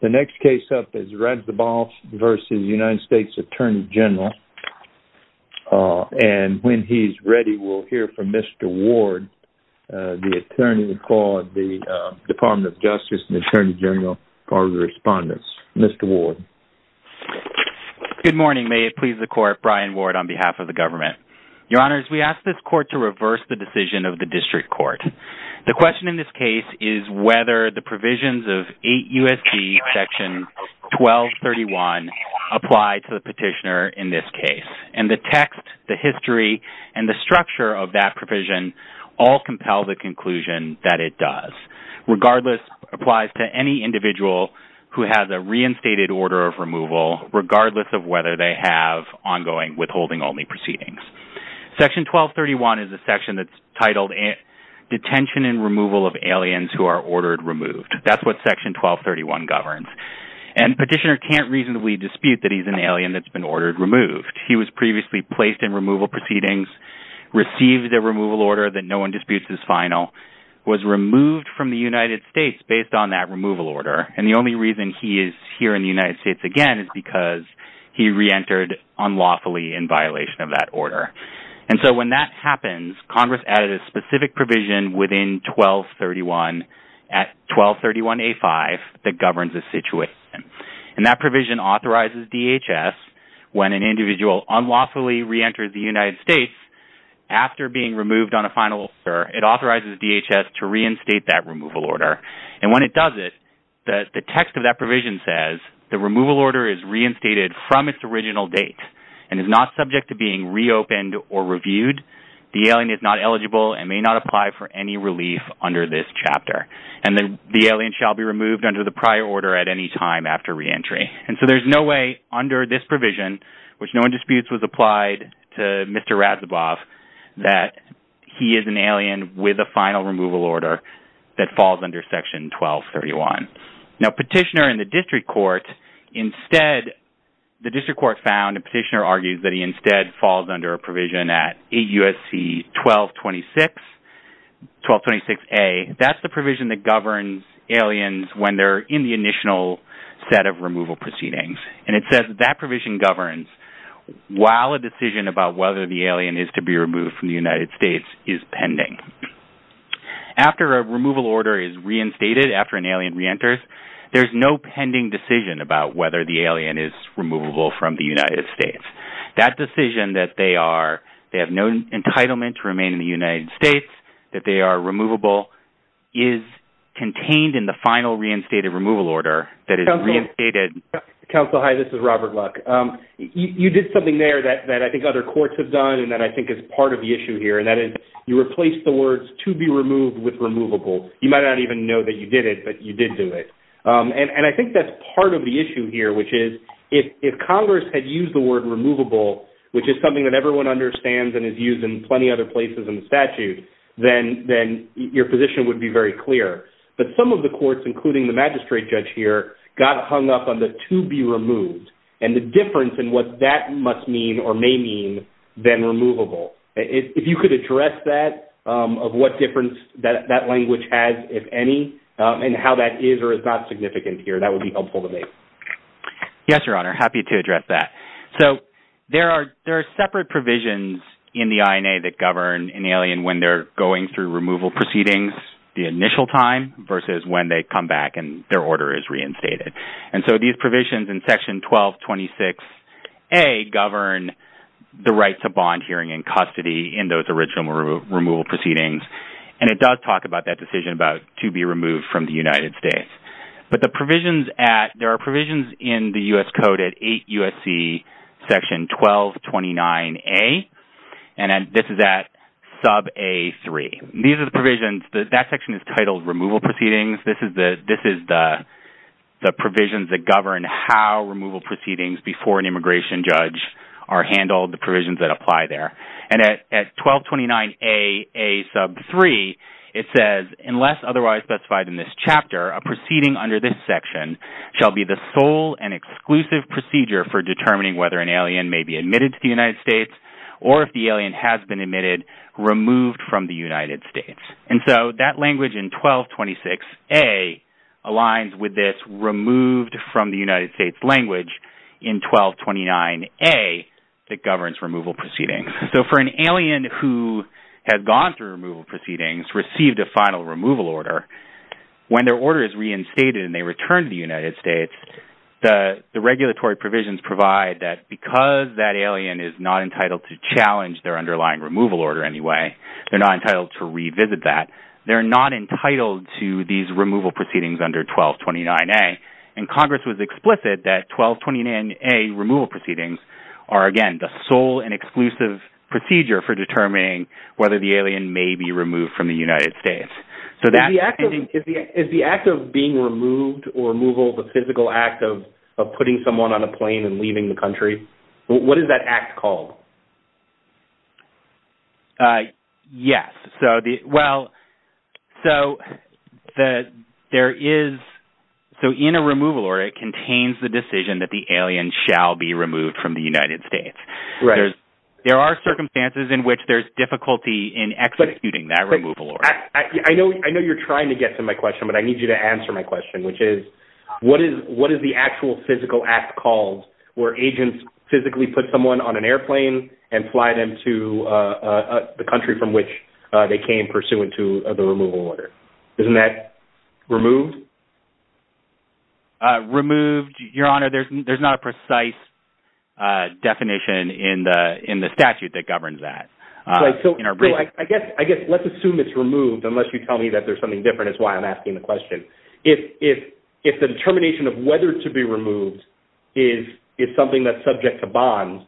THE NEXT CASE IS RED DABAS V. UNITED STATES ATTORNEY GENERAL. WHEN HE IS READY, WE WILL HEAR FROM MR. WARD, THE ATTORNEY FOR THE DEPARTMENT OF JUSTICE AND THE ATTORNEY GENERAL FOR RESPONDENCE. MR. WARD. GOOD MORNING. MAY IT PLEASE THE COURT. BRYAN WARD, ON BEHALF OF THE GOVERNMENT. YOUR HONORS, WE ASK THIS COURT TO REVERSE THE DECISION OF THE DISTRICT COURT. THE QUESTION IN THIS CASE IS WHETHER THE PROVISIONS OF 8 U.S.D., SECTION 1231, APPLY TO THE PETITIONER IN THIS CASE. AND THE TEXT, THE HISTORY, AND THE STRUCTURE OF THAT PROVISION ALL COMPEL THE CONCLUSION THAT IT DOES, REGARDLESS, APPLIES TO ANY INDIVIDUAL WHO HAS A REINSTATED ORDER OF REMOVAL, REGARDLESS OF WHETHER THEY HAVE ONGOING WITHHOLDING-ONLY PROCEEDINGS. SECTION 1231 IS A SECTION THAT'S TITLED, DETENTION AND REMOVAL OF ALIENS WHO ARE ORDERED REMOVED. THAT'S WHAT SECTION 1231 GOVERNS. AND PETITIONER CAN'T REASONABLY DISPUTE THAT HE'S AN ALIEN THAT'S BEEN ORDERED REMOVED. HE WAS PREVIOUSLY PLACED IN REMOVAL PROCEEDINGS, RECEIVED A REMOVAL ORDER THAT NO ONE DISPUTES IS FINAL, WAS REMOVED FROM THE UNITED STATES BASED ON THAT REMOVAL ORDER, AND THE ONLY REASON HE IS HERE IN THE UNITED STATES, AGAIN, IS BECAUSE HE REENTERED UNLAWFULLY IN VIOLATION OF THAT ORDER. AND SO, WHEN THAT HAPPENS, CONGRESS ADDED A SPECIFIC PROVISION WITHIN 1231, AT 1231A5, THAT GOVERNS A SITUATION. AND THAT PROVISION AUTHORIZES DHS, WHEN AN INDIVIDUAL UNLAWFULLY REENTERS THE UNITED STATES, AFTER BEING REMOVED ON A FINAL ORDER, IT AUTHORIZES DHS TO REINSTATE THAT REMOVAL ORDER. AND WHEN IT DOES IT, THE TEXT OF THAT PROVISION SAYS, THE REMOVAL ORDER IS REINSTATED FROM ITS ORIGINAL DATE, AND IS NOT SUBJECT TO BEING REOPENED OR REVIEWED. THE ALIEN IS NOT ELIGIBLE AND MAY NOT APPLY FOR ANY RELIEF UNDER THIS CHAPTER. AND THE ALIEN SHALL BE REMOVED UNDER THE PRIOR ORDER AT ANY TIME AFTER REENTRY. AND SO, THERE'S NO WAY, UNDER THIS PROVISION, WHICH NO ONE DISPUTES WAS APPLIED TO MR. RAZABOFF, THAT HE IS AN ALIEN WITH A FINAL REMOVAL ORDER THAT FALLS UNDER SECTION 1231. NOW, PETITIONER IN THE DISTRICT COURT, INSTEAD, THE DISTRICT COURT FOUND, A PETITIONER ARGUES THAT HE INSTEAD FALLS UNDER A PROVISION AT AUSC 1226, 1226A, THAT'S THE PROVISION THAT GOVERNS ALIENS WHEN THEY'RE IN THE INITIAL SET OF REMOVAL PROCEEDINGS. AND IT SAYS THAT THAT PROVISION GOVERNS WHILE A DECISION ABOUT WHETHER THE ALIEN IS TO BE REMOVED FROM THE UNITED STATES IS PENDING. After a removal order is reinstated, after an alien reenters, there's no pending decision about whether the alien is removable from the United States. That decision that they are, they have no entitlement to remain in the United States, that they are removable, is contained in the final reinstated removal order that is reinstated. Council, hi, this is Robert Luck. You did something there that I think other courts have done and that I think is part of the issue here, and that is you replaced the words to be removed with removable. You might not even know that you did it, but you did do it. And I think that's part of the issue here, which is if Congress had used the word removable, which is something that everyone understands and is used in plenty of other places in the statute, then your position would be very clear. But some of the courts, including the magistrate judge here, got hung up on the to be removed and the difference in what that must mean or may mean than removable. If you could address that, of what difference that language has, if any, and how that is or is not significant here, that would be helpful to me. Yes, Your Honor, happy to address that. So there are separate provisions in the INA that govern an alien when they're going through removal proceedings the initial time versus when they come back and their order is reinstated. And so these provisions in Section 1226A govern the right to bond hearing and custody in those original removal proceedings. And it does talk about that decision about to be removed from the United States. But the provisions at, there are provisions in the U.S. Code at 8 U.S.C. Section 1229A, and this is at sub-A3. These are the provisions, that section is titled Removal Proceedings. This is the provisions that govern how removal proceedings before an immigration judge are handled, the provisions that apply there. And at 1229A, A sub-3, it says, unless otherwise specified in this chapter, a proceeding under this section shall be the sole and exclusive procedure for determining whether an alien may be admitted to the United States or if the alien has been admitted, removed from the United States. And so that language in 1226A aligns with this removed from the United States language in 1229A that governs removal proceedings. So for an alien who has gone through removal proceedings, received a final removal order, when their order is reinstated and they return to the United States, the regulatory provisions provide that because that alien is not entitled to challenge their underlying removal order in any way. They're not entitled to revisit that. They're not entitled to these removal proceedings under 1229A. And Congress was explicit that 1229A removal proceedings are, again, the sole and exclusive procedure for determining whether the alien may be removed from the United States. So that's... Is the act of being removed or removal the physical act of putting someone on a plane and leaving the country? What is that act called? Yes. So the... Well, so the... There is... So in a removal order, it contains the decision that the alien shall be removed from the United States. Right. There are circumstances in which there's difficulty in executing that removal order. I know you're trying to get to my question, but I need you to answer my question, which is what is the actual physical act called where agents physically put someone on an airplane and fly them to the country from which they came pursuant to the removal order? Isn't that removed? Removed? Your Honor, there's not a precise definition in the statute that governs that. Right. So... In our brief... So I guess... I guess let's assume it's removed, unless you tell me that there's something different is why I'm asking the question. If the determination of whether to be removed is something that's subject to bond,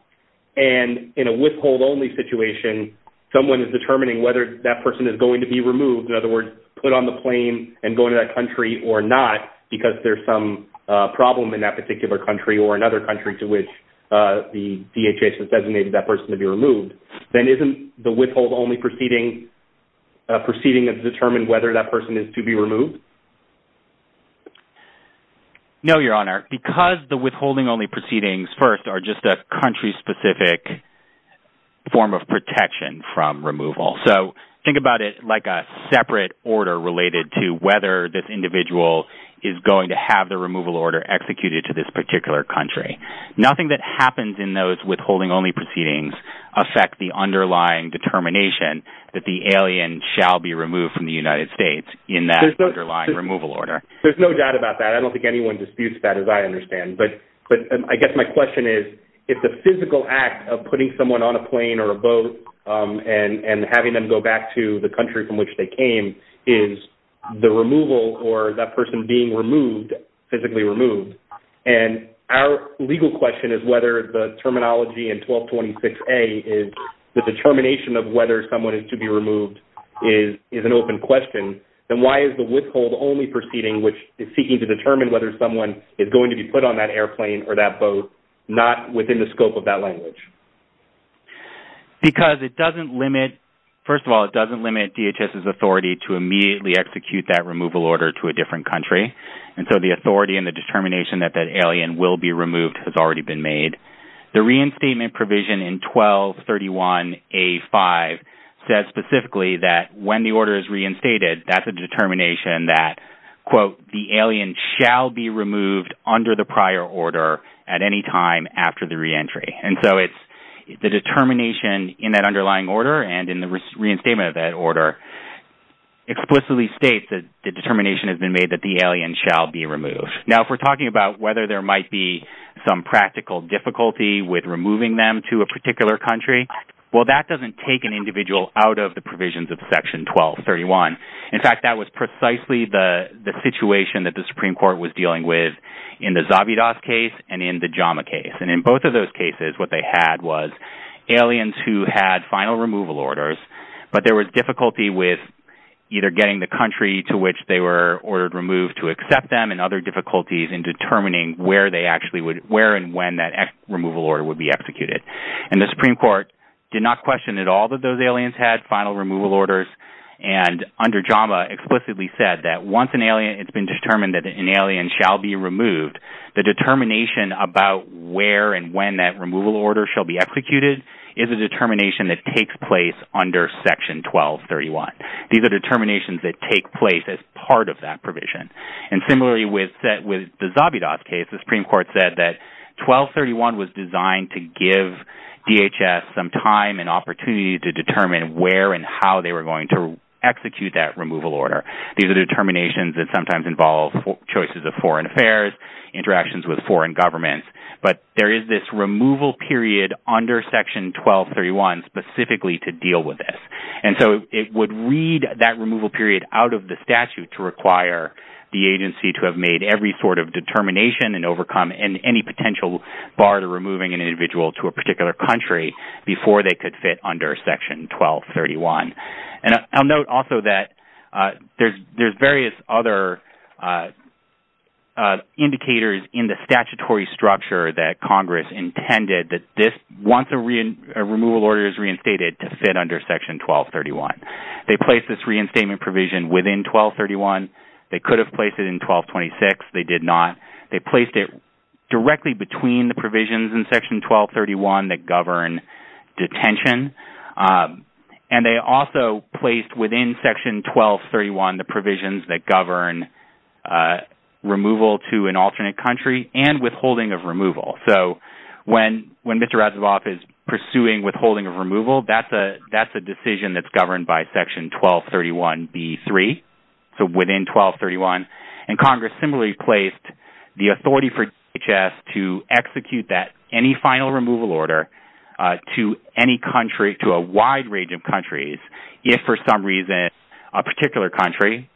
and in a withhold-only situation, someone is determining whether that person is going to be removed, in other words, put on the plane and go to that country or not, because there's some problem in that particular country or another country to which the DHS has designated that person to be removed, then isn't the withhold-only proceeding a proceeding that's determined whether that person is to be removed? No, Your Honor. Because the withholding-only proceedings, first, are just a country-specific form of protection from removal. So think about it like a separate order related to whether this individual is going to have the removal order executed to this particular country. Nothing that happens in those withholding-only proceedings affect the underlying determination that the alien shall be removed from the United States in that underlying removal order. There's no doubt about that. I don't think anyone disputes that, as I understand. But I guess my question is, if the physical act of putting someone on a plane or a boat and having them go back to the country from which they came is the removal or that person being removed, physically removed, and our legal question is whether the terminology in 1226A is the determination of whether someone is to be removed is an open question, then why is the withhold-only proceeding, which is seeking to determine whether someone is going to be put on that airplane or that boat, not within the scope of that language? Because it doesn't limit, first of all, it doesn't limit DHS's authority to immediately execute that removal order to a different country. And so the authority and the determination that that alien will be removed has already been made. The reinstatement provision in 1231A5 says specifically that when the order is reinstated, that's a determination that, quote, the alien shall be removed under the prior order at any time after the reentry. And so it's the determination in that underlying order and in the reinstatement of that order explicitly states that the determination has been made that the alien shall be removed. Now, if we're talking about whether there might be some practical difficulty with removing them to a particular country, well, that doesn't take an individual out of the provisions of Section 1231. In fact, that was precisely the situation that the Supreme Court was dealing with in the Zabidas case and in the Jama case. And in both of those cases, what they had was aliens who had final removal orders, but there was difficulty with either getting the country to which they were ordered removed to accept them and other difficulties in determining where they actually would, where and when that removal order would be executed. And the Supreme Court did not question at all that those aliens had final removal orders. And under Jama explicitly said that once an alien, it's been determined that an alien shall be removed. The determination about where and when that removal order shall be executed is a determination that takes place under Section 1231. These are determinations that take place as part of that provision. And similarly, with the Zabidas case, the Supreme Court said that 1231 was designed to give DHS some time and opportunity to determine where and how they were going to execute that removal order. These are determinations that sometimes involve choices of foreign affairs, interactions with foreign governments. But there is this removal period under Section 1231 specifically to deal with this. And so it would read that removal period out of the statute to require the agency to have made every sort of determination and overcome any potential bar to removing an individual to a particular country before they could fit under Section 1231. And I'll note also that there's various other indicators in the statutory structure that Congress intended that this once a removal order is reinstated to fit under Section 1231. They placed this reinstatement provision within 1231. They could have placed it in 1226. They did not. They placed it directly between the provisions in Section 1231 that govern detention. And they also placed within Section 1231 the provisions that govern removal to an alternate country and withholding of removal. So when Mr. Razivoff is pursuing withholding of removal, that's a decision that's governed by Section 1231b3, so within 1231. And Congress similarly placed the authority for DHS to execute that any final removal order to any country, to a wide range of countries, if for some reason a particular country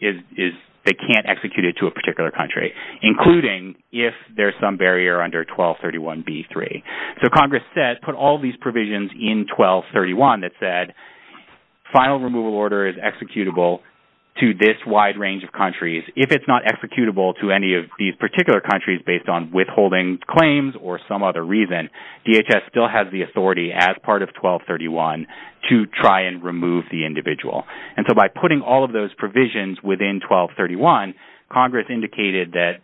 is they can't execute it to a particular country, including if there's some barrier under 1231b3. So Congress put all these provisions in 1231 that said final removal order is executable to this wide range of countries. If it's not executable to any of these particular countries based on withholding claims or some other reason, DHS still has the authority as part of 1231 to try and remove the individual. And so by putting all of those provisions within 1231, Congress indicated that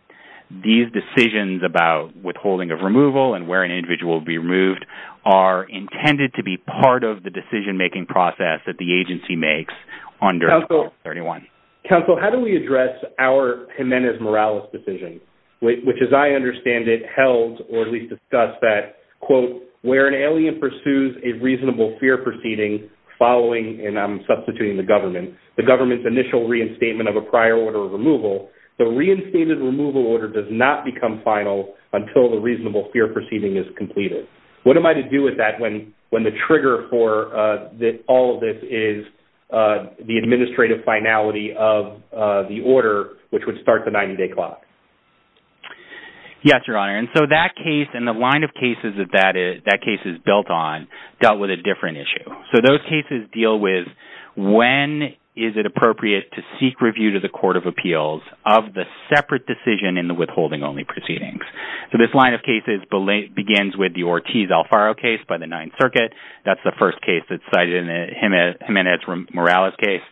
these decisions about withholding of removal and where an individual will be removed are intended to be part of the decision-making process that the agency makes under 1231. Counsel, how do we address our Jimenez-Morales decision, which as I understand it held, or at least discussed that, quote, where an alien pursues a reasonable fear proceeding following and I'm substituting the government, the government's initial reinstatement of a prior order of removal. The reinstated removal order does not become final until the reasonable fear proceeding is completed. What am I to do with that when the trigger for all of this is the administrative finality of the order, which would start the 90-day clock? Yes, Your Honor. And so that case and the line of cases that that case is built on dealt with a different issue. So those cases deal with when is it appropriate to seek review to the Court of Appeals of the separate decision in the withholding-only proceedings. So this line of cases begins with the Ortiz-Alfaro case by the Ninth Circuit. That's the first case that's cited in the Jimenez-Morales case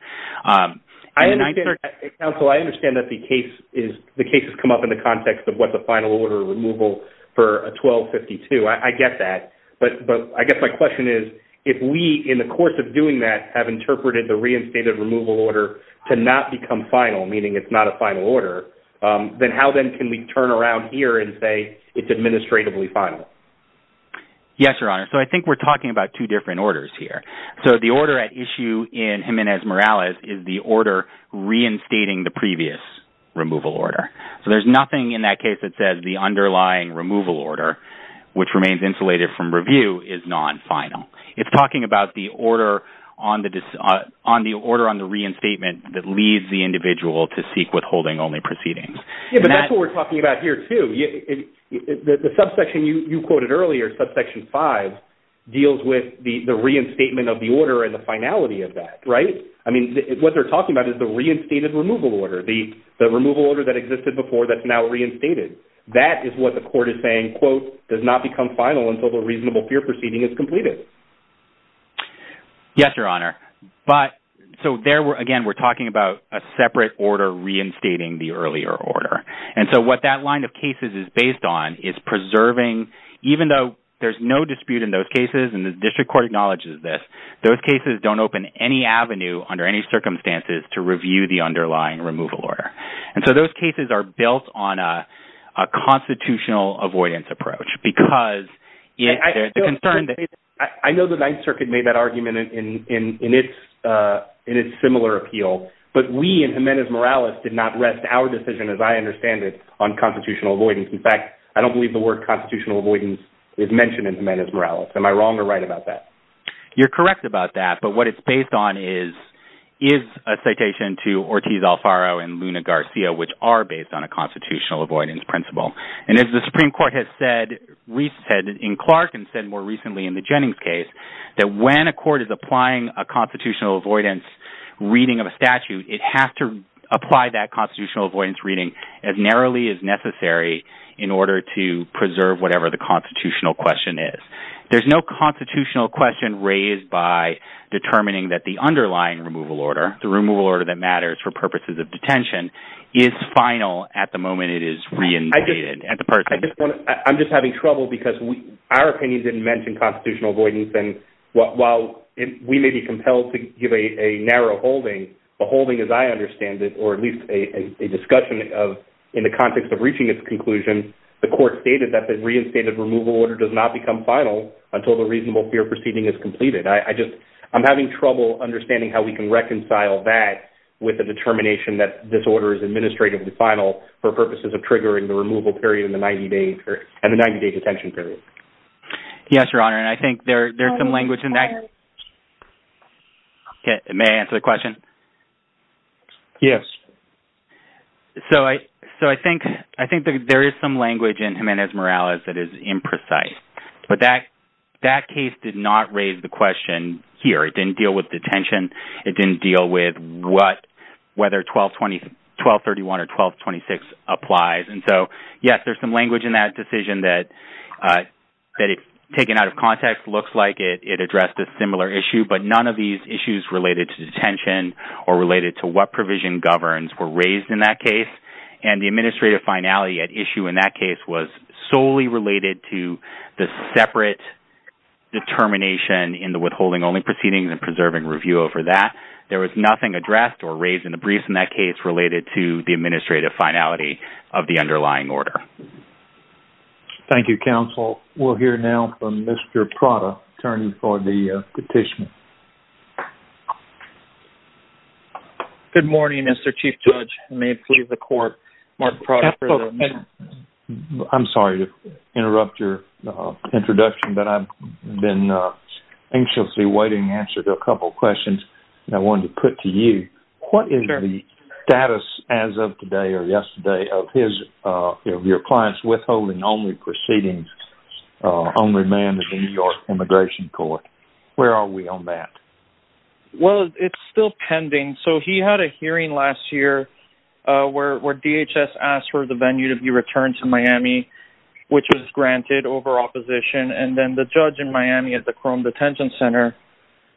in the Ninth Circuit. Counsel, I understand that the case is, the case has come up in the context of what's a final order of removal for a 1252. I get that. But I guess my question is, if we, in the course of doing that, have interpreted the reinstated removal order to not become final, meaning it's not a final order, then how then can we turn around here and say it's administratively final? Yes, Your Honor. So I think we're talking about two different orders here. So the order at issue in Jimenez-Morales is the order reinstating the previous removal order. So there's nothing in that case that says the underlying removal order, which remains insulated from review, is non-final. It's talking about the order on the reinstatement that leads the individual to seek withholding-only proceedings. Yes, but that's what we're talking about here, too. The subsection you quoted earlier, subsection 5, deals with the reinstatement of the order and the finality of that, right? I mean, what they're talking about is the reinstated removal order, the removal order that existed before that's now reinstated. That is what the court is saying, quote, does not become final until the reasonable fear proceeding is completed. Yes, Your Honor. But so there, again, we're talking about a separate order reinstating the earlier order. And so what that line of cases is based on is preserving, even though there's no dispute in those cases, and the district court acknowledges this, those cases don't open any avenue under any circumstances to review the underlying removal order. And so those cases are built on a constitutional avoidance approach because there's a concern that... I know the Ninth Circuit made that argument in its similar appeal, but we in Jimenez-Morales did not rest our decision, as I understand it, on constitutional avoidance. In fact, I don't believe the word constitutional avoidance is mentioned in Jimenez-Morales. Am I wrong or right about that? You're correct about that, but what it's based on is a citation to Ortiz Alfaro and Luna Garcia, which are based on a constitutional avoidance principle. And as the Supreme Court has said, in Clark and said more recently in the Jennings case, that when a court is applying a constitutional avoidance reading of a statute, it has to apply that constitutional avoidance reading as narrowly as necessary in order to preserve whatever the constitutional question is. There's no constitutional question raised by determining that the underlying removal order that matters for purposes of detention is final at the moment it is reinstated at the person. I'm just having trouble because our opinion didn't mention constitutional avoidance. And while we may be compelled to give a narrow holding, the holding, as I understand it, or at least a discussion of in the context of reaching its conclusion, the court stated that the reinstated removal order does not become final until the reasonable fear proceeding is completed. I just, I'm having trouble understanding how we can reconcile that with the determination that this order is administratively final for purposes of triggering the removal period in the 90-day period, and the 90-day detention period. Yes, Your Honor. And I think there's some language in that. May I answer the question? Yes. So I think there is some language in Jimenez-Morales that is imprecise, but that case did not raise the question here. It didn't deal with detention. It didn't deal with whether 1231 or 1226 applies. And so, yes, there's some language in that decision that, taken out of context, looks like it addressed a similar issue, but none of these issues related to detention or related to what provision governs were raised in that case. And the administrative finality at issue in that case was solely related to the separate determination in the withholding-only proceeding and preserving review over that. There was nothing addressed or raised in the briefs in that case related to the administrative finality of the underlying order. Thank you, counsel. We'll hear now from Mr. Prada, attorney for the petition. Good morning, Mr. Chief Judge, and may it please the court, Mark Prada for the- I'm sorry to interrupt your introduction, but I've been anxiously waiting to answer a couple of questions that I wanted to put to you. What is the status as of today or yesterday of your client's withholding-only proceeding, only man of the New York Immigration Court? Where are we on that? Well, it's still pending. So he had a hearing last year where DHS asked for the venue to be returned to Miami, which was granted over opposition. And then the judge in Miami at the Crone Detention Center,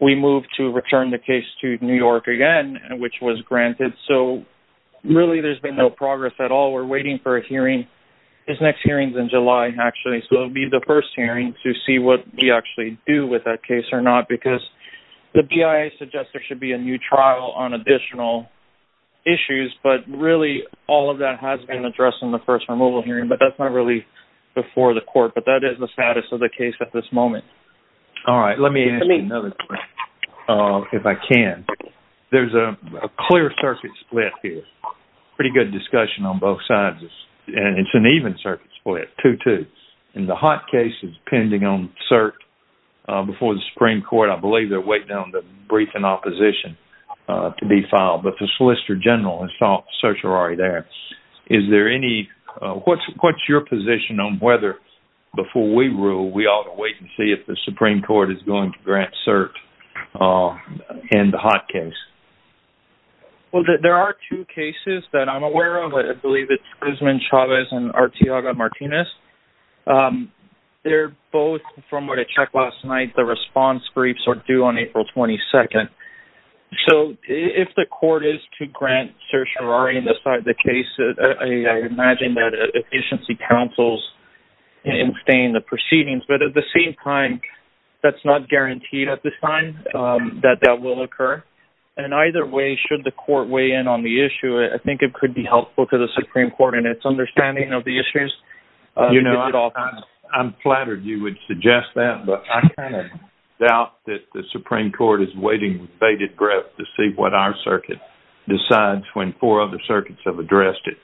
we moved to return the case to New York again, which was granted. So really there's been no progress at all. We're waiting for a hearing. His next hearing's in July, actually, so it'll be the first hearing to see what we actually do with that case or not, because the BIA suggests there should be a new trial on additional issues, but really all of that has been addressed in the first removal hearing. But that's not really before the court, but that is the status of the case at this moment. All right, let me ask you another question, if I can. There's a clear circuit split here, pretty good discussion on both sides, and it's an even circuit split, 2-2. And the Hott case is pending on cert before the Supreme Court. I believe they're waiting on the brief in opposition to be filed, but the Solicitor General has thought certs are already there. Is there any... What's your position on whether, before we rule, we ought to wait and see if the Supreme Court is going to grant cert in the Hott case? Well, there are two cases that I'm aware of. I believe it's Guzman, Chavez, and Arteaga-Martinez. They're both from what I checked last night, the response briefs are due on April 22nd. So if the court is to grant certs are already inside the case, I imagine that efficiency counsels abstain the proceedings, but at the same time, that's not guaranteed at this time that that will occur. And either way, should the court weigh in on the issue, I think it could be helpful to the Supreme Court in its understanding of the issues. You know, I'm flattered you would suggest that, but I kind of doubt that the Supreme Court is waiting with bated breath to see what our circuit decides when four other circuits have addressed it.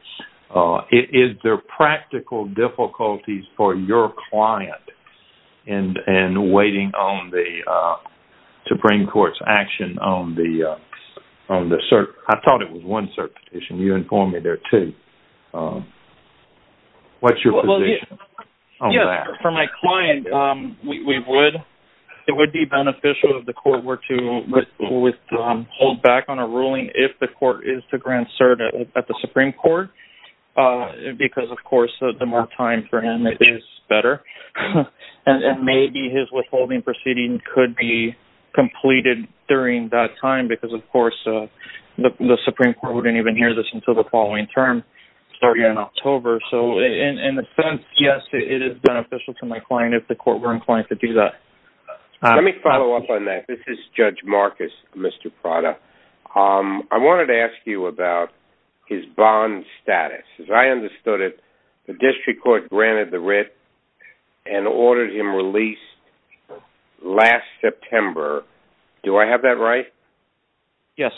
Is there practical difficulties for your client in waiting on the Supreme Court's action on the cert? I thought it was one cert petition. You informed me there, too. What's your position on that? For my client, we would. It would be beneficial if the court were to withhold back on a ruling if the court is to grant cert at the Supreme Court, because, of course, the more time for him, it is better. And maybe his withholding proceeding could be completed during that time, because of course, the Supreme Court wouldn't even hear this until the following term, starting in October. So in a sense, yes, it is beneficial to my client if the court were inclined to do that. Let me follow up on that. This is Judge Marcus, Mr. Prada. I wanted to ask you about his bond status. As I understood it, the district court granted the writ and ordered him released last September. Do I have that right? Yes.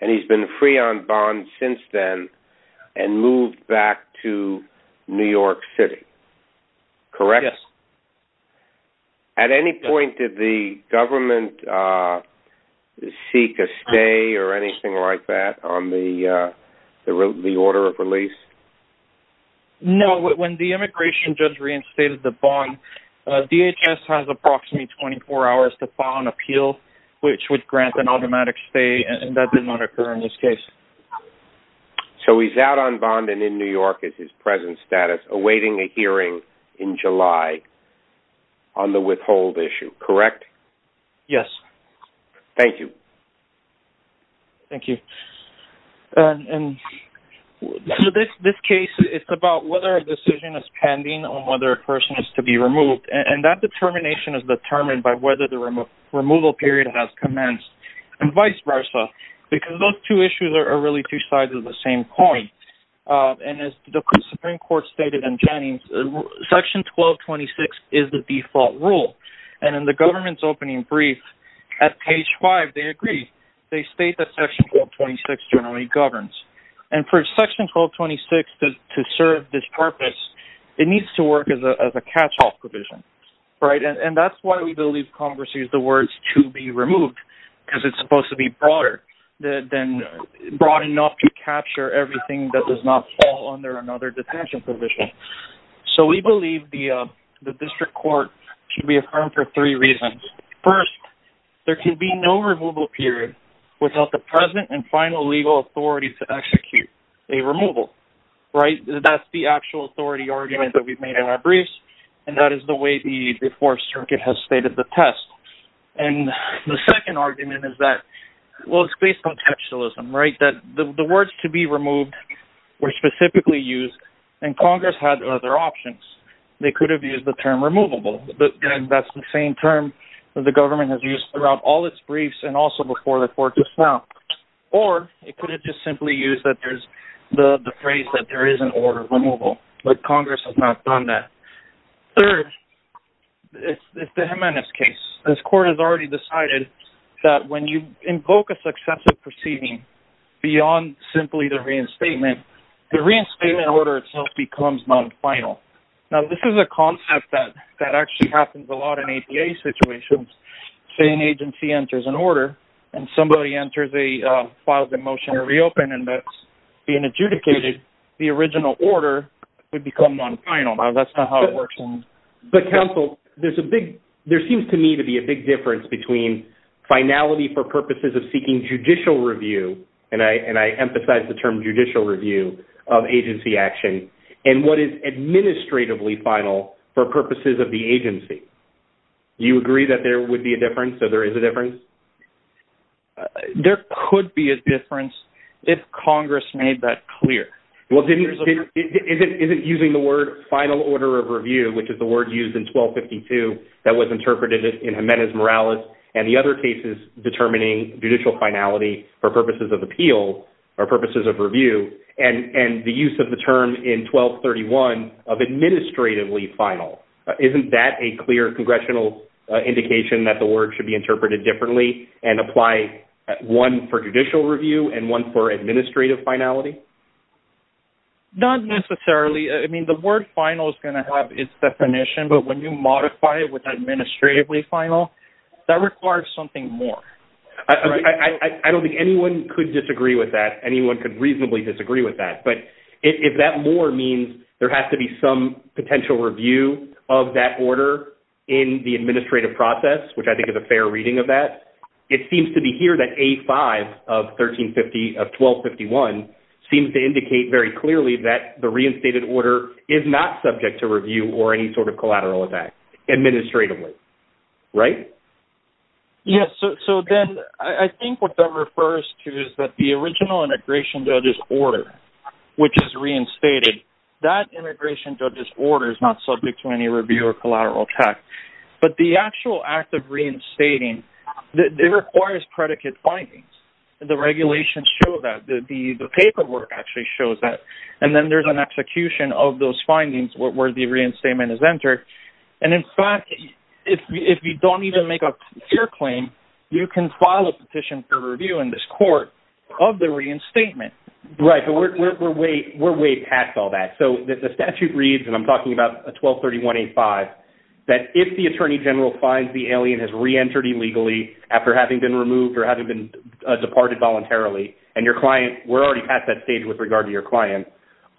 And he's been free on bond since then and moved back to New York City. Correct? Yes. At any point, did the government seek a stay or anything like that on the order of release? No, when the immigration judge reinstated the bond, DHS has approximately 24 hours to appeal, which would grant an automatic stay. And that did not occur in this case. So he's out on bond and in New York is his present status awaiting a hearing in July. On the withhold issue, correct? Yes. Thank you. Thank you. And this case, it's about whether a decision is pending on whether a person is to be removed. And that determination is determined by whether the removal period has commenced and vice versa, because those two issues are really two sides of the same coin. And as the Supreme Court stated in Jennings, Section 1226 is the default rule. And in the government's opening brief at page five, they agree. They state that Section 1226 generally governs. And for Section 1226 to serve this purpose, it needs to work as a catch-off provision. Right. And that's why we believe Congress needs the words to be removed, because it's supposed to be broader than broad enough to capture everything that does not fall under another detention provision. So we believe the district court should be affirmed for three reasons. First, there can be no removal period without the present and final legal authority to execute a removal. Right. That's the actual authority argument that we've made in our briefs. And that is the way the Fourth Circuit has stated the test. And the second argument is that, well, it's based on contextualism, right? That the words to be removed were specifically used and Congress had other options. They could have used the term removable. That's the same term that the government has used throughout all its briefs and also before the court just now. Or it could have just simply used that there's the phrase that there is an order of removal. But Congress has not done that. Third, it's the Jimenez case. This court has already decided that when you invoke a successive proceeding beyond simply the reinstatement, the reinstatement order itself becomes non-final. Now, this is a concept that actually happens a lot in APA situations. Say an agency enters an order and somebody enters a file, the motion to reopen and that's being adjudicated, the original order would become non-final. That's not how it works. But counsel, there's a big there seems to me to be a big difference between finality for purposes of seeking judicial review. And I and I emphasize the term judicial review of agency action and what is administratively final for purposes of the agency. You agree that there would be a difference? So there is a difference? There could be a difference if Congress made that clear. Well, it isn't using the word final order of review, which is the word used in 1252 that was interpreted in Jimenez Morales and the other cases determining judicial finality for purposes of appeal or purposes of review and the use of the term in 1231 of administratively final. Isn't that a clear congressional indication that the word should be interpreted differently and apply one for judicial review and one for administrative finality? Not necessarily. I mean, the word final is going to have its definition, but when you modify it with administratively final, that requires something more. I don't think anyone could disagree with that. Anyone could reasonably disagree with that. But if that more means there has to be some potential review of that order in the administrative process, which I think is a fair reading of that, it seems to be here that A5 of 1350 of 1251 seems to indicate very clearly that the reinstated order is not subject to review or any sort of collateral effect administratively. Right? Yes. So then I think what that refers to is that the original integration judges order which is reinstated, that integration judges order is not subject to any review or collateral tax. But the actual act of reinstating, it requires predicate findings. The regulations show that the paperwork actually shows that. And then there's an execution of those findings where the reinstatement is entered. And in fact, if you don't even make a clear claim, you can file a petition for review in this court of the reinstatement. Right. We're way past all that. So the statute reads, and I'm talking about a 1231A5, that if the attorney general finds the alien has reentered illegally after having been removed or having been departed voluntarily and your client, we're already past that stage with regard to your client,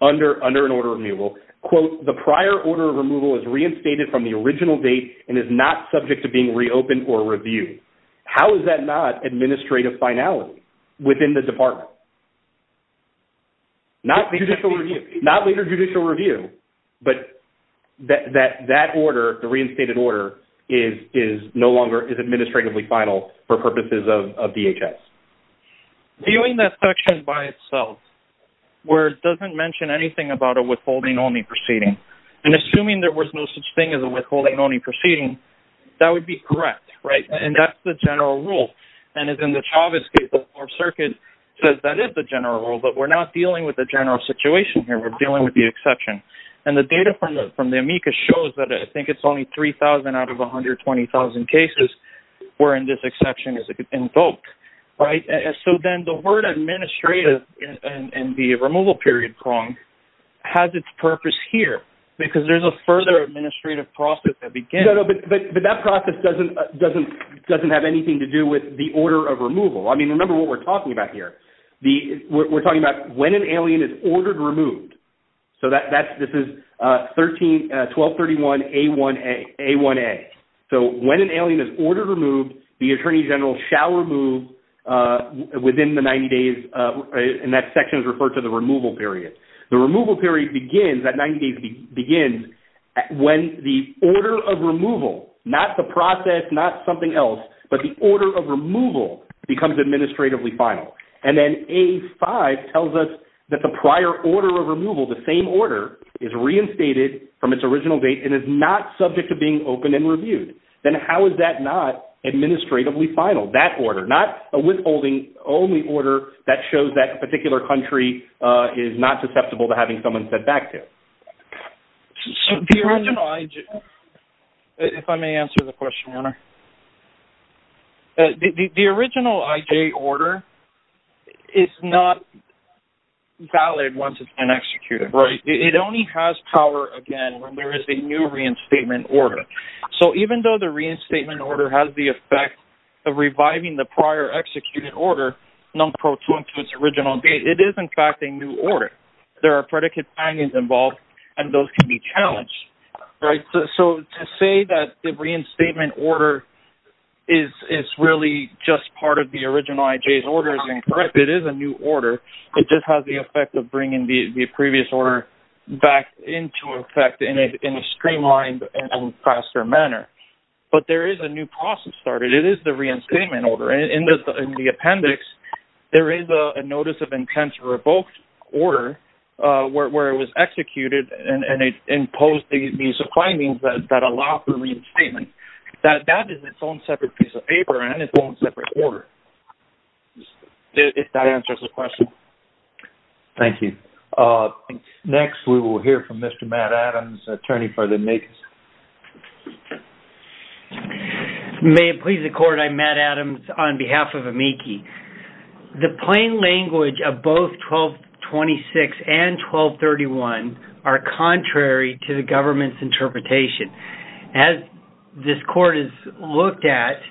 under an order of removal, quote, the prior order of removal is reinstated from the original date and is not subject to being reopened or reviewed. How is that not administrative finality within the department? Not judicial review, not later judicial review, but that order, the reinstated order is no longer is administratively final for purposes of DHS. Viewing that section by itself, where it doesn't mention anything about a withholding only proceeding and assuming there was no such thing as a withholding only proceeding, that would be correct, right? And that's the general rule. And as in the Chavez case, our circuit says that is the general rule, but we're not dealing with the general situation here. We're dealing with the exception. And the data from the, from the amicus shows that I think it's only 3000 out of 120,000 cases where in this exception is invoked, right? So then the word administrative and the removal period prong has its purpose here because there's a further administrative process that begins. But that process doesn't, doesn't, doesn't have anything to do with the order of removal. I mean, remember what we're talking about here. The, we're talking about when an alien is ordered removed. So that's, this is 13, 1231 A1A. So when an alien is ordered removed, the attorney general shall remove within the 90 days and that section is referred to the removal period. The removal period begins at 90 days begins when the order of removal, not the process, not something else, but the order of removal becomes administratively final. And then A5 tells us that the prior order of removal, the same order is reinstated from its original date and is not subject to being opened and reviewed. Then how is that not administratively final? That order, not a withholding only order that shows that a particular country is not susceptible to having someone sent back to it. So the original IJ, if I may answer the question, Werner, the original IJ order is not valid once it's been executed, right? It only has power again, when there is a new reinstatement order. So even though the reinstatement order has the effect of reviving the prior executed order, it is in fact a new order. There are predicates involved and those can be challenged, right? So to say that the reinstatement order is really just part of the original IJ's order is incorrect. It is a new order. It just has the effect of bringing the previous order back into effect in a streamlined and faster manner. But there is a new process started. It is the reinstatement order. In the appendix, there is a notice of intent to revoke order where it was executed and it imposed these findings that allow for reinstatement. That is its own separate piece of paper and its own separate order, if that answers the question. Thank you. Next, we will hear from Mr. Matt Adams, attorney for the NAICS. May it please the court, I'm Matt Adams on behalf of AMICI. The plain language of both 1226 and 1231 are contrary to the government's interpretation. As this court has looked at,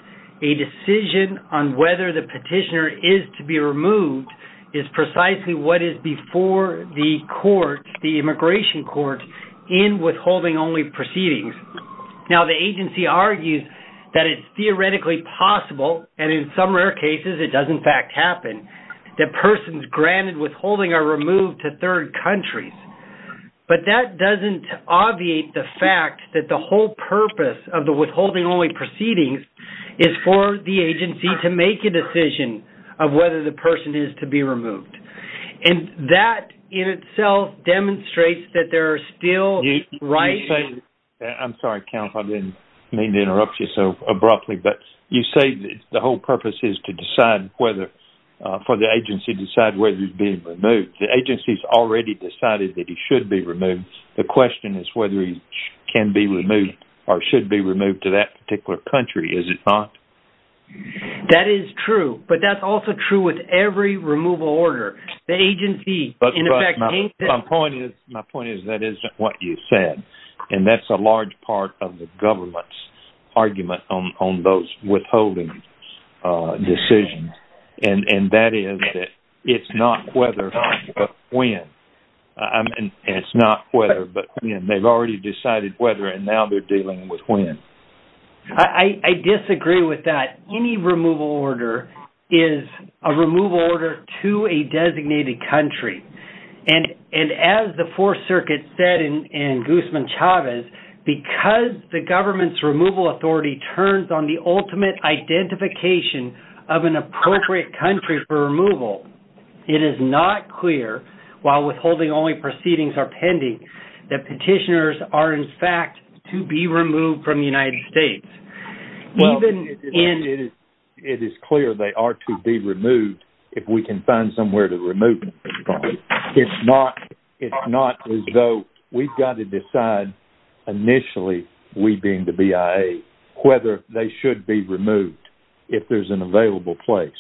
a decision on whether the petitioner is to be removed is precisely what is before the court, the immigration court, in withholding only proceedings. Now, the agency argues that it is theoretically possible, and in some rare cases, it does in fact happen, that persons granted withholding are removed to third countries. But that doesn't obviate the fact that the whole purpose of the withholding only proceedings is for the agency to make a decision of whether the person is to be removed. And that in itself demonstrates that there are still rights- You say- I'm sorry, counsel, I didn't mean to interrupt you so abruptly. But you say the whole purpose is to decide whether- for the agency to decide whether he's being removed. The agency's already decided that he should be removed. The question is whether he can be removed or should be removed to that particular country, is it not? That is true. But that's also true with every removal order. The agency- My point is that isn't what you said. And that's a large part of the government's argument on those withholding decisions. And that is that it's not whether, but when. It's not whether, but when. They've already decided whether, and now they're dealing with when. I disagree with that. Any removal order is a removal order to a designated country. And as the Fourth Circuit said in Guzman-Chavez, because the government's removal authority turns on the ultimate identification of an appropriate country for removal, it is not clear, while withholding only proceedings are pending, that petitioners are in fact to be removed from the United States. Well, it is clear they are to be removed if we can find somewhere to remove them. It's not as though we've got to decide, initially, we being the BIA, whether they should be removed if there's an available place.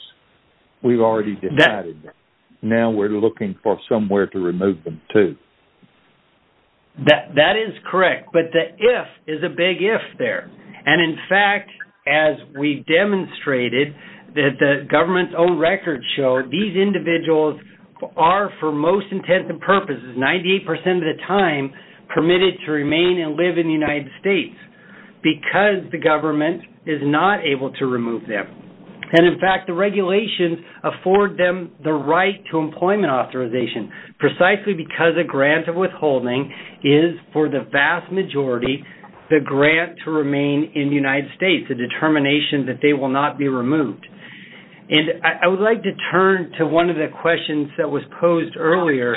We've already decided that. Now we're looking for somewhere to remove them to. That is correct. But the if is a big if there. And in fact, as we've demonstrated that the government's own records show, these individuals are, for most intents and purposes, 98% of the time permitted to remain and live in the United States because the government is not able to remove them. And in fact, the regulations afford them the right to employment authorization precisely because a grant of withholding is, for the vast majority, the grant to remain in the United States, a determination that they will not be removed. And I would like to turn to one of the questions that was posed earlier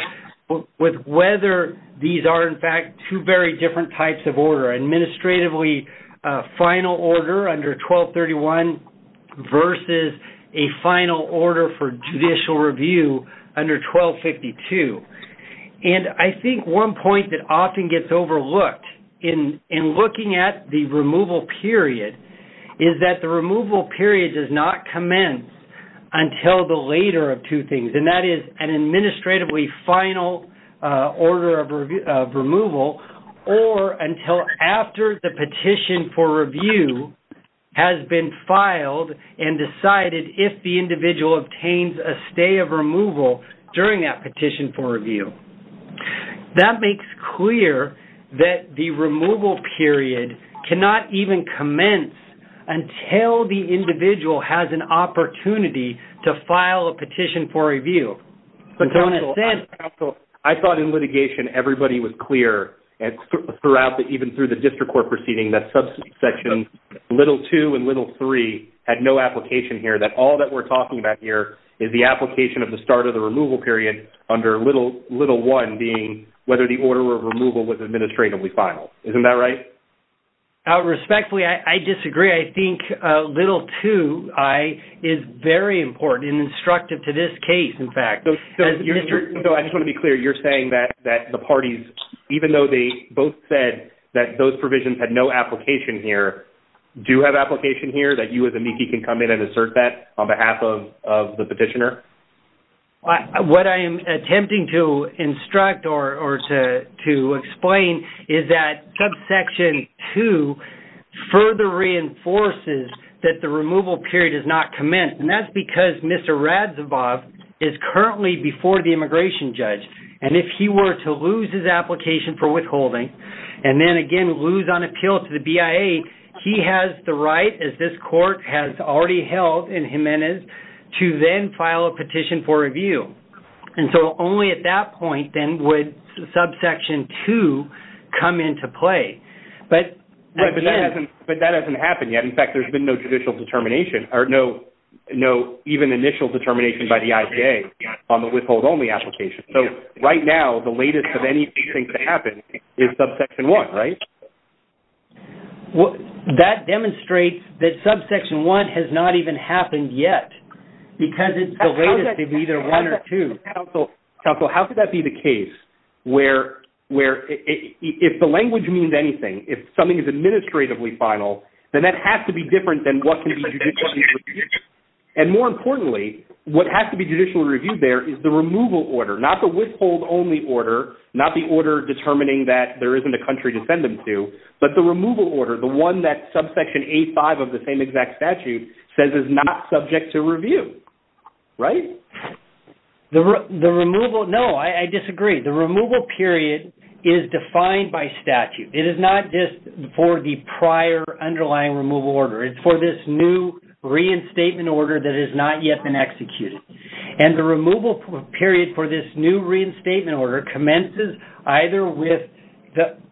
with whether these are, in fact, two very different types of order. Administratively, a final order under 1231 versus a final order for judicial review under 1252. And I think one point that often gets overlooked in looking at the removal period is that the removal period does not commence until the later of two things. And that is an administratively final order of removal or until after the petition for review has been filed and decided if the individual obtains a stay of removal during that petition for review. That makes clear that the removal period cannot even commence until the individual has an opportunity to file a petition for review. And so, in a sense... So, counsel, I thought in litigation, everybody was clear throughout, even through the district court proceeding, that subsection little two and little three had no application here, that all that we're talking about here is the application of the removal period under little one being whether the order of removal was administratively final. Isn't that right? Respectfully, I disagree. I think little two is very important and instructive to this case, in fact. So, I just want to be clear. You're saying that the parties, even though they both said that those provisions had no application here, do you have application here that you as amici can come in and assert that on behalf of the petitioner? What I am attempting to instruct or to explain is that subsection two further reinforces that the removal period has not commenced. And that's because Mr. Radzibov is currently before the immigration judge. And if he were to lose his application for withholding and then, again, lose on appeal to the BIA, he has the right, as this court has already held in Jimenez, to then file a petition for review. And so, only at that point, then, would subsection two come into play. But, again- But that hasn't happened yet. In fact, there's been no judicial determination or no even initial determination by the IBA on the withhold only application. So, right now, the latest of anything to happen is subsection one, right? That demonstrates that subsection one has not even happened yet. Because it's the latest of either one or two. Counsel, how could that be the case where if the language means anything, if something is administratively final, then that has to be different than what can be judicially reviewed. And more importantly, what has to be judicially reviewed there is the removal order, not the withhold only order, not the order determining that there isn't a country to send them to, but the removal order, the one that subsection A5 of the same exact statute says is not subject to review, right? The removal- No, I disagree. The removal period is defined by statute. It is not just for the prior underlying removal order. It's for this new reinstatement order that has not yet been executed. And the removal period for this new reinstatement order commences either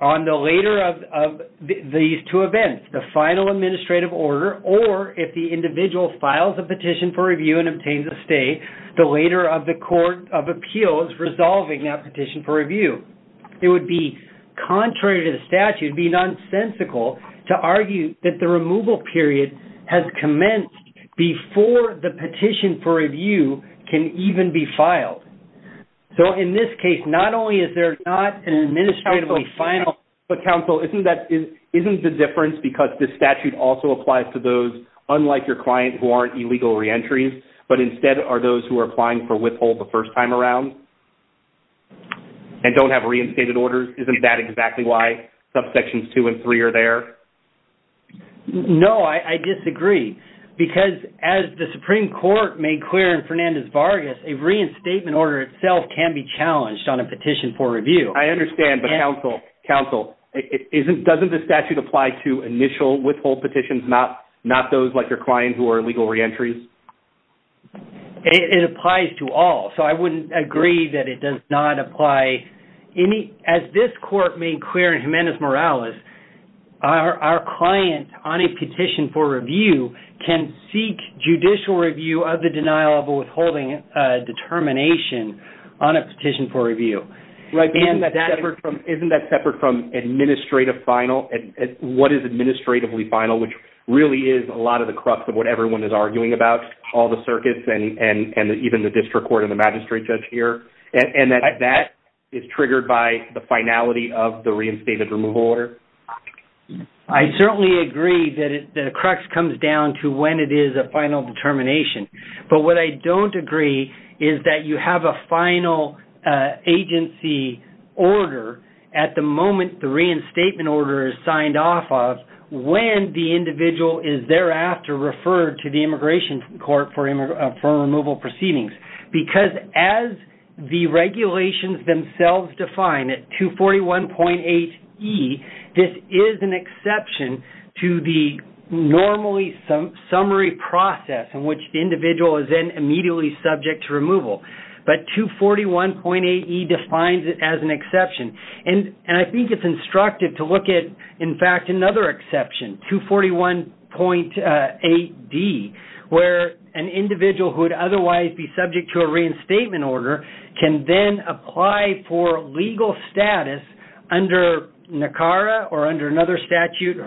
on the later of these events, the final administrative order, or if the individual files a petition for review and obtains a stay, the later of the court of appeals resolving that petition for review. It would be contrary to the statute, it would be nonsensical to argue that the removal period has commenced before the petition for review can even be filed. So in this case, not only is there not an administratively final- Isn't the difference because this statute also applies to those, unlike your client, who aren't illegal reentries, but instead are those who are applying for withhold the first time around and don't have reinstated orders? Isn't that exactly why subsections two and three are there? No, I disagree because as the Supreme Court made clear in Fernandez-Vargas, a reinstatement order itself can be challenged on a petition for review. I understand, but counsel, doesn't the statute apply to initial withhold petitions, not those like your client who are illegal reentries? It applies to all, so I wouldn't agree that it does not apply. As this court made clear in Jimenez-Morales, our client on a petition for review can seek judicial review of the denial of a withholding determination on a petition for review. Isn't that separate from administrative final? What is administratively final, which really is a lot of the crux of what everyone is arguing about, all the circuits and even the district court and the magistrate judge here, and that that is triggered by the finality of the reinstated removal order? I certainly agree that the crux comes down to when it is a final determination, but what I don't agree is that you have a final agency order at the moment the reinstatement order is signed off of when the individual is thereafter referred to the immigration court for removal proceedings, because as the regulations themselves define at 241.8E, this is an exception to the normally summary process in which the individual is then immediately subject to removal, but 241.8E defines it as an exception, and I think it's instructive to look at, in fact, another exception, 241.8D, where an individual who would under another statute,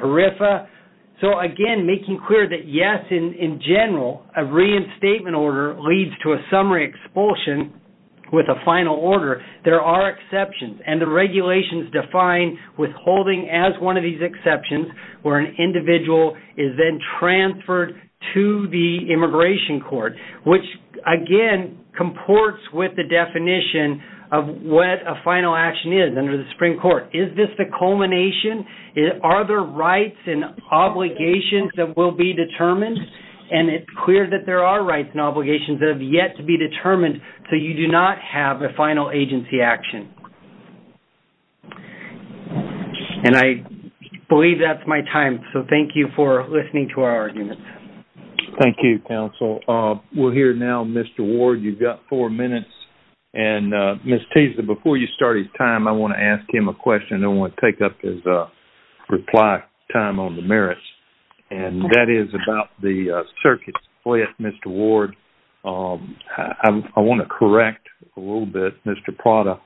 so, again, making clear that, yes, in general, a reinstatement order leads to a summary expulsion with a final order. There are exceptions, and the regulations define withholding as one of these exceptions where an individual is then transferred to the immigration court, which, again, comports with the definition of what a final action is under the Supreme Court. Is this the culmination? Are there rights and obligations that will be determined? And it's clear that there are rights and obligations that have yet to be determined, so you do not have a final agency action. And I believe that's my time, so thank you for listening to our arguments. Thank you, counsel. We'll hear now Mr. Ward. You've got four minutes, and Ms. Teasdale, before you start your time, I want to ask him a question. I want to take up his reply time on the merits, and that is about the circuit split, Mr. Ward. I want to correct a little bit Mr. Prada.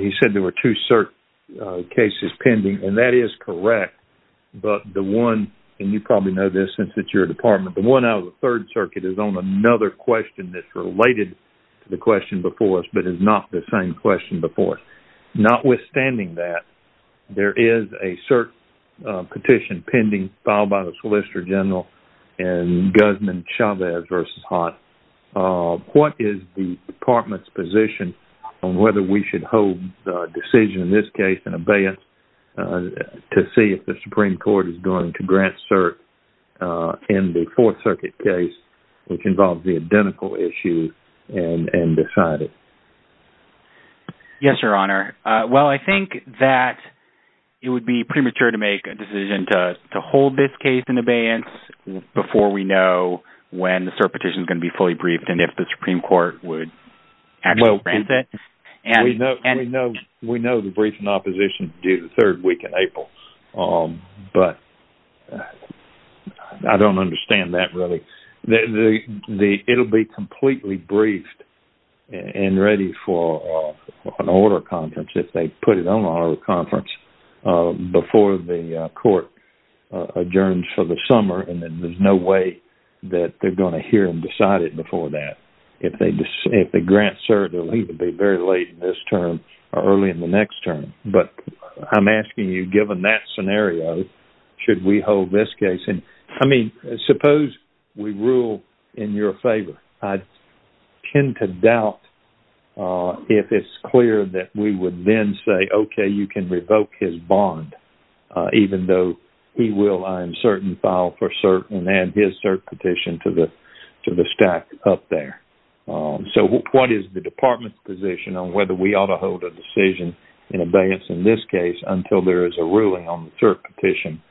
He said there were two CERT cases pending, and that is correct, but the one, and you probably know this since it's your department, the one out of the Third that's related to the question before us, but is not the same question before us. Notwithstanding that, there is a CERT petition pending filed by the Solicitor General and Guzman-Chavez v. Haas. What is the department's position on whether we should hold the decision in this case in abeyance to see if the Supreme Court is going to grant CERT in the Fourth Circuit case, which involves the identical issue, and decide it? Yes, Your Honor. Well, I think that it would be premature to make a decision to hold this case in abeyance before we know when the CERT petition is going to be fully briefed, and if the Supreme Court would actually grant it. We know the brief in opposition is due the third week in April, but I don't understand that really. It'll be completely briefed and ready for an order conference if they put it on an order conference before the court adjourns for the summer, and there's no way that they're going to hear and decide it before that. If they grant CERT, it'll be very late in this term or early in the next term. But I'm asking you, given that scenario, should we hold this case? I mean, suppose we rule in your favor. I tend to doubt if it's clear that we would then say, okay, you can revoke his bond, even though he will, I am certain, file for CERT and add his CERT petition to the stack up there. So what is the department's position on whether we ought to hold a decision in abeyance in this case until there is a ruling on the CERT petition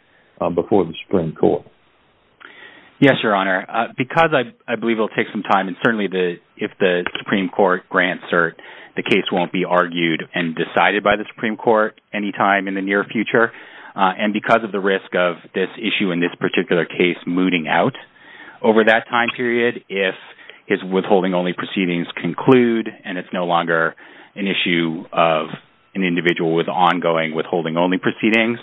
before the Supreme Court? Yes, Your Honor, because I believe it'll take some time, and certainly if the Supreme Court grants CERT, the case won't be argued and decided by the Supreme Court anytime in the near future, and because of the risk of this issue in this particular case mooting out, over that time if his withholding-only proceedings conclude and it's no longer an issue of an individual with ongoing withholding-only proceedings,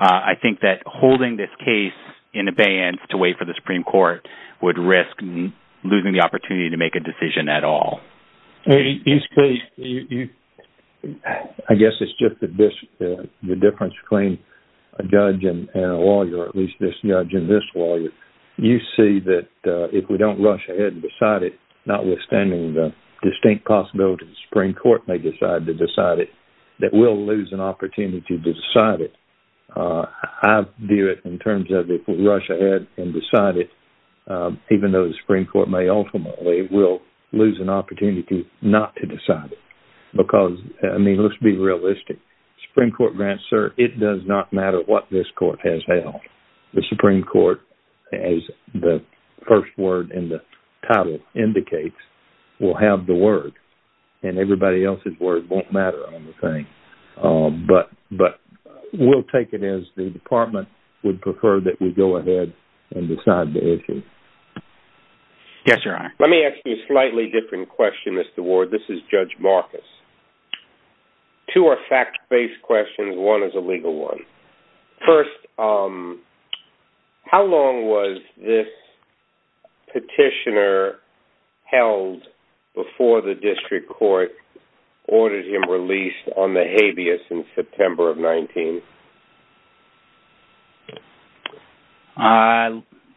I think that holding this case in abeyance to wait for the Supreme Court would risk losing the opportunity to make a decision at all. I guess it's just the difference between a judge and a lawyer, or at least this judge and this lawyer, if they don't rush ahead and decide it, notwithstanding the distinct possibility the Supreme Court may decide to decide it, that we'll lose an opportunity to decide it. I view it in terms of if we rush ahead and decide it, even though the Supreme Court may ultimately lose an opportunity not to decide it, because, I mean, let's be realistic. Supreme Court grants CERT, it does not matter what this court has held. The Supreme Court, as the first word in the title indicates, will have the word, and everybody else's word won't matter on the thing, but we'll take it as the Department would prefer that we go ahead and decide the issue. Yes, Your Honor. Let me ask you a slightly different question, Mr. Ward. This is Judge Marcus. Two are fact-based questions, one is a legal one. First, how long was this petitioner held before the District Court ordered him released on the habeas in September of 19?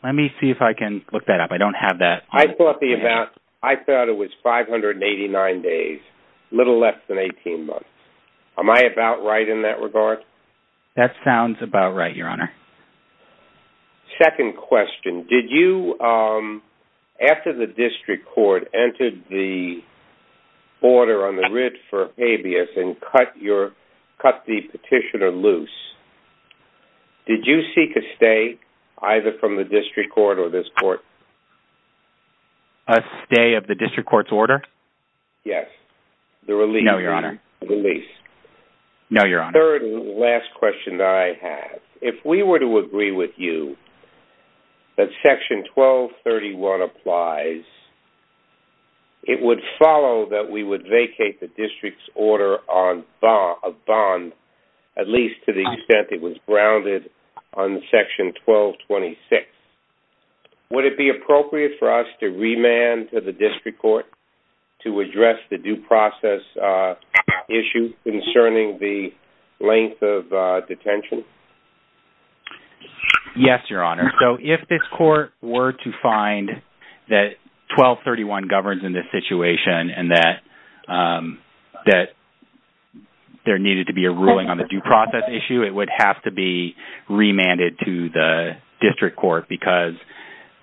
Let me see if I can look that up. I don't have that. I thought it was 589 days, a little less than 18 months. Am I about right in that regard? That sounds about right, Your Honor. Second question, did you, after the District Court entered the order on the writ for habeas and cut the petitioner loose, did you seek a stay, either from the District Court or this court? A stay of the District Court's order? Yes. No, Your Honor. The release. No, Your Honor. Third and last question that I have, if we were to agree with you that Section 1231 applies, it would follow that we would vacate the District's order on a bond, at least to the extent it was grounded on Section 1226. Would it be appropriate for us to remand to the District Court to address the due process issue concerning the length of detention? Yes, Your Honor. If this court were to find that 1231 governs in this situation and that that there needed to be a ruling on the due process issue, it would have to be remanded to the District Court because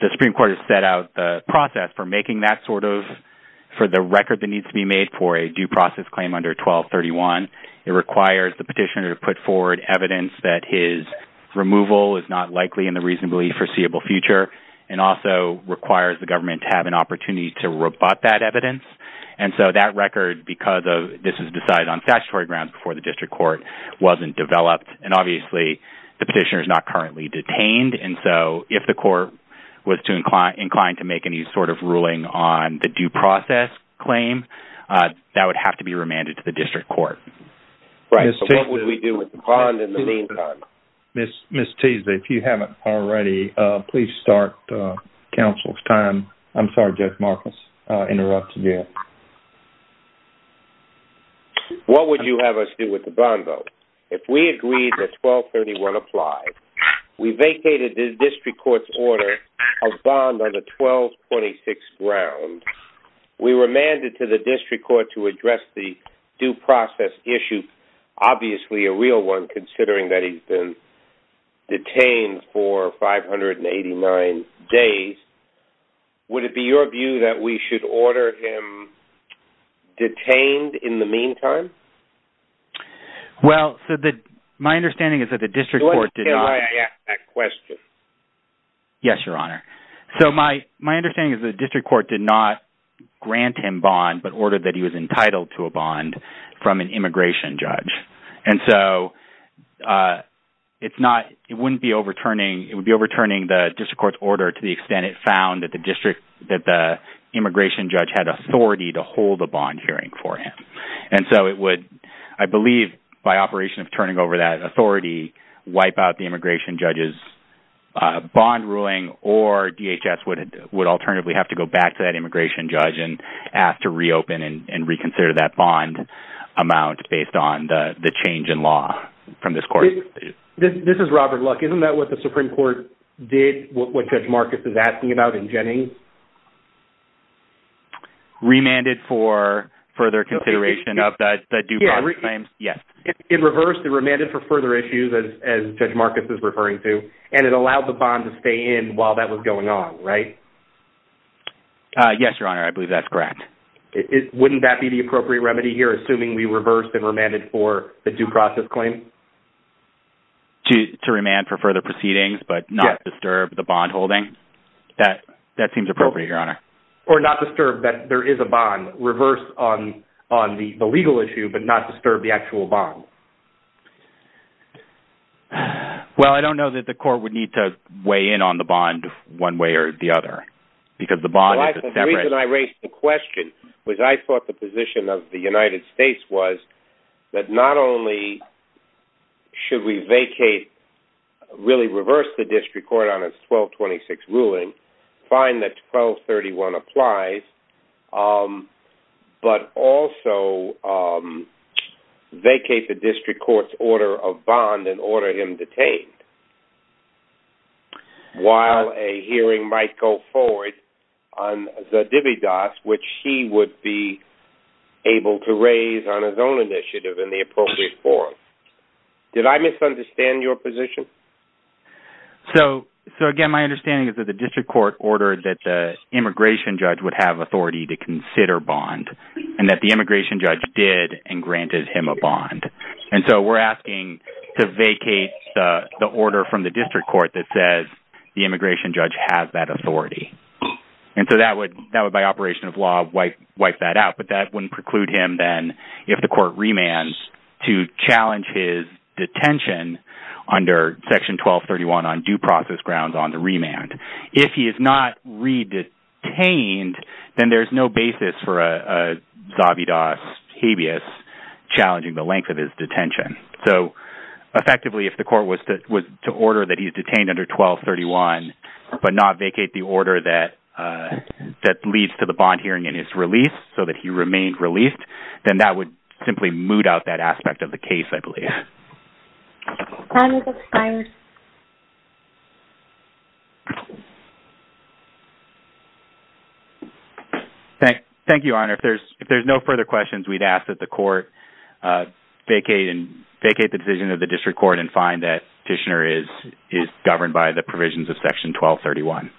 the Supreme Court has set out the process for making that sort of, for the record that needs to be made for a due process claim under 1231. It requires the petitioner to put forward evidence that his removal is not likely in the reasonably foreseeable future and also requires the government to have an opportunity to rebut that evidence. And so, that record, because this was decided on statutory grounds before the District Court, wasn't developed. And obviously, the petitioner is not currently detained. And so, if the court was inclined to make any sort of ruling on the due process claim, that would have to be remanded to the District Court. Right. So, what would we do with the bond in the meantime? Ms. Teasley, if you haven't already, please start counsel's time. I'm sorry, Judge Marcus, interrupted you. What would you have us do with the bond, though? If we agreed that 1231 applied, we vacated the District Court's order of bond under 1226 ground. We remanded to the District Detained for 589 days. Would it be your view that we should order him detained in the meantime? Well, my understanding is that the District Court did not... Can I ask that question? Yes, Your Honor. So, my understanding is that the District Court did not grant him bond, but ordered that he was entitled to a bond from an immigration judge. And so, it wouldn't be overturning... It would be overturning the District Court's order to the extent it found that the immigration judge had authority to hold a bond hearing for him. And so, it would, I believe, by operation of turning over that authority, wipe out the immigration judge's bond ruling, or DHS would alternatively have to go back to that immigration judge and ask to reopen and reconsider that bond amount based on the change in law from this court. This is Robert Luck. Isn't that what the Supreme Court did, what Judge Marcus is asking about in Jennings? Remanded for further consideration of the due process claims? Yes. In reverse, they remanded for further issues, as Judge Marcus is referring to, and it allowed the bond to stay in while that was going on, right? Yes, Your Honor. I believe that's correct. Wouldn't that be the appropriate remedy here, assuming we reversed and remanded for the due process claim? To remand for further proceedings, but not disturb the bond holding? That seems appropriate, Your Honor. Or not disturb that there is a bond. Reverse on the legal issue, but not disturb the actual bond. Well, I don't know that the court would need to weigh in on the bond one way or the other, because the bond is a separate... The reason I raised the question was I thought the position of the United States was that not only should we vacate, really reverse the district court on its 1226 ruling, find that 1231 applies, but also vacate the district court's order of bond and order him detained. While a hearing might go forward on the dividas, which he would be able to raise on his own initiative in the appropriate forum. Did I misunderstand your position? So, again, my understanding is that the district court ordered that the immigration judge would have authority to consider bond, and that the immigration judge did and granted him a bond. And so we're asking to vacate the order from the district court that says the immigration judge has that authority. And so that would, by operation of law, wipe that out. But that wouldn't preclude him then, if the court remands, to challenge his detention under Section 1231 on due process grounds on the remand. If he is not re-detained, then there's no basis for a habeas, challenging the length of his detention. So, effectively, if the court was to order that he's detained under 1231, but not vacate the order that leads to the bond hearing in his release, so that he remained released, then that would simply moot out that aspect of the case, I believe. Time has expired. Thank you, Your Honor. If there's no further questions, we'd ask that the court vacate the decision of the district court and find that Fishner is governed by the provisions of Section 1231.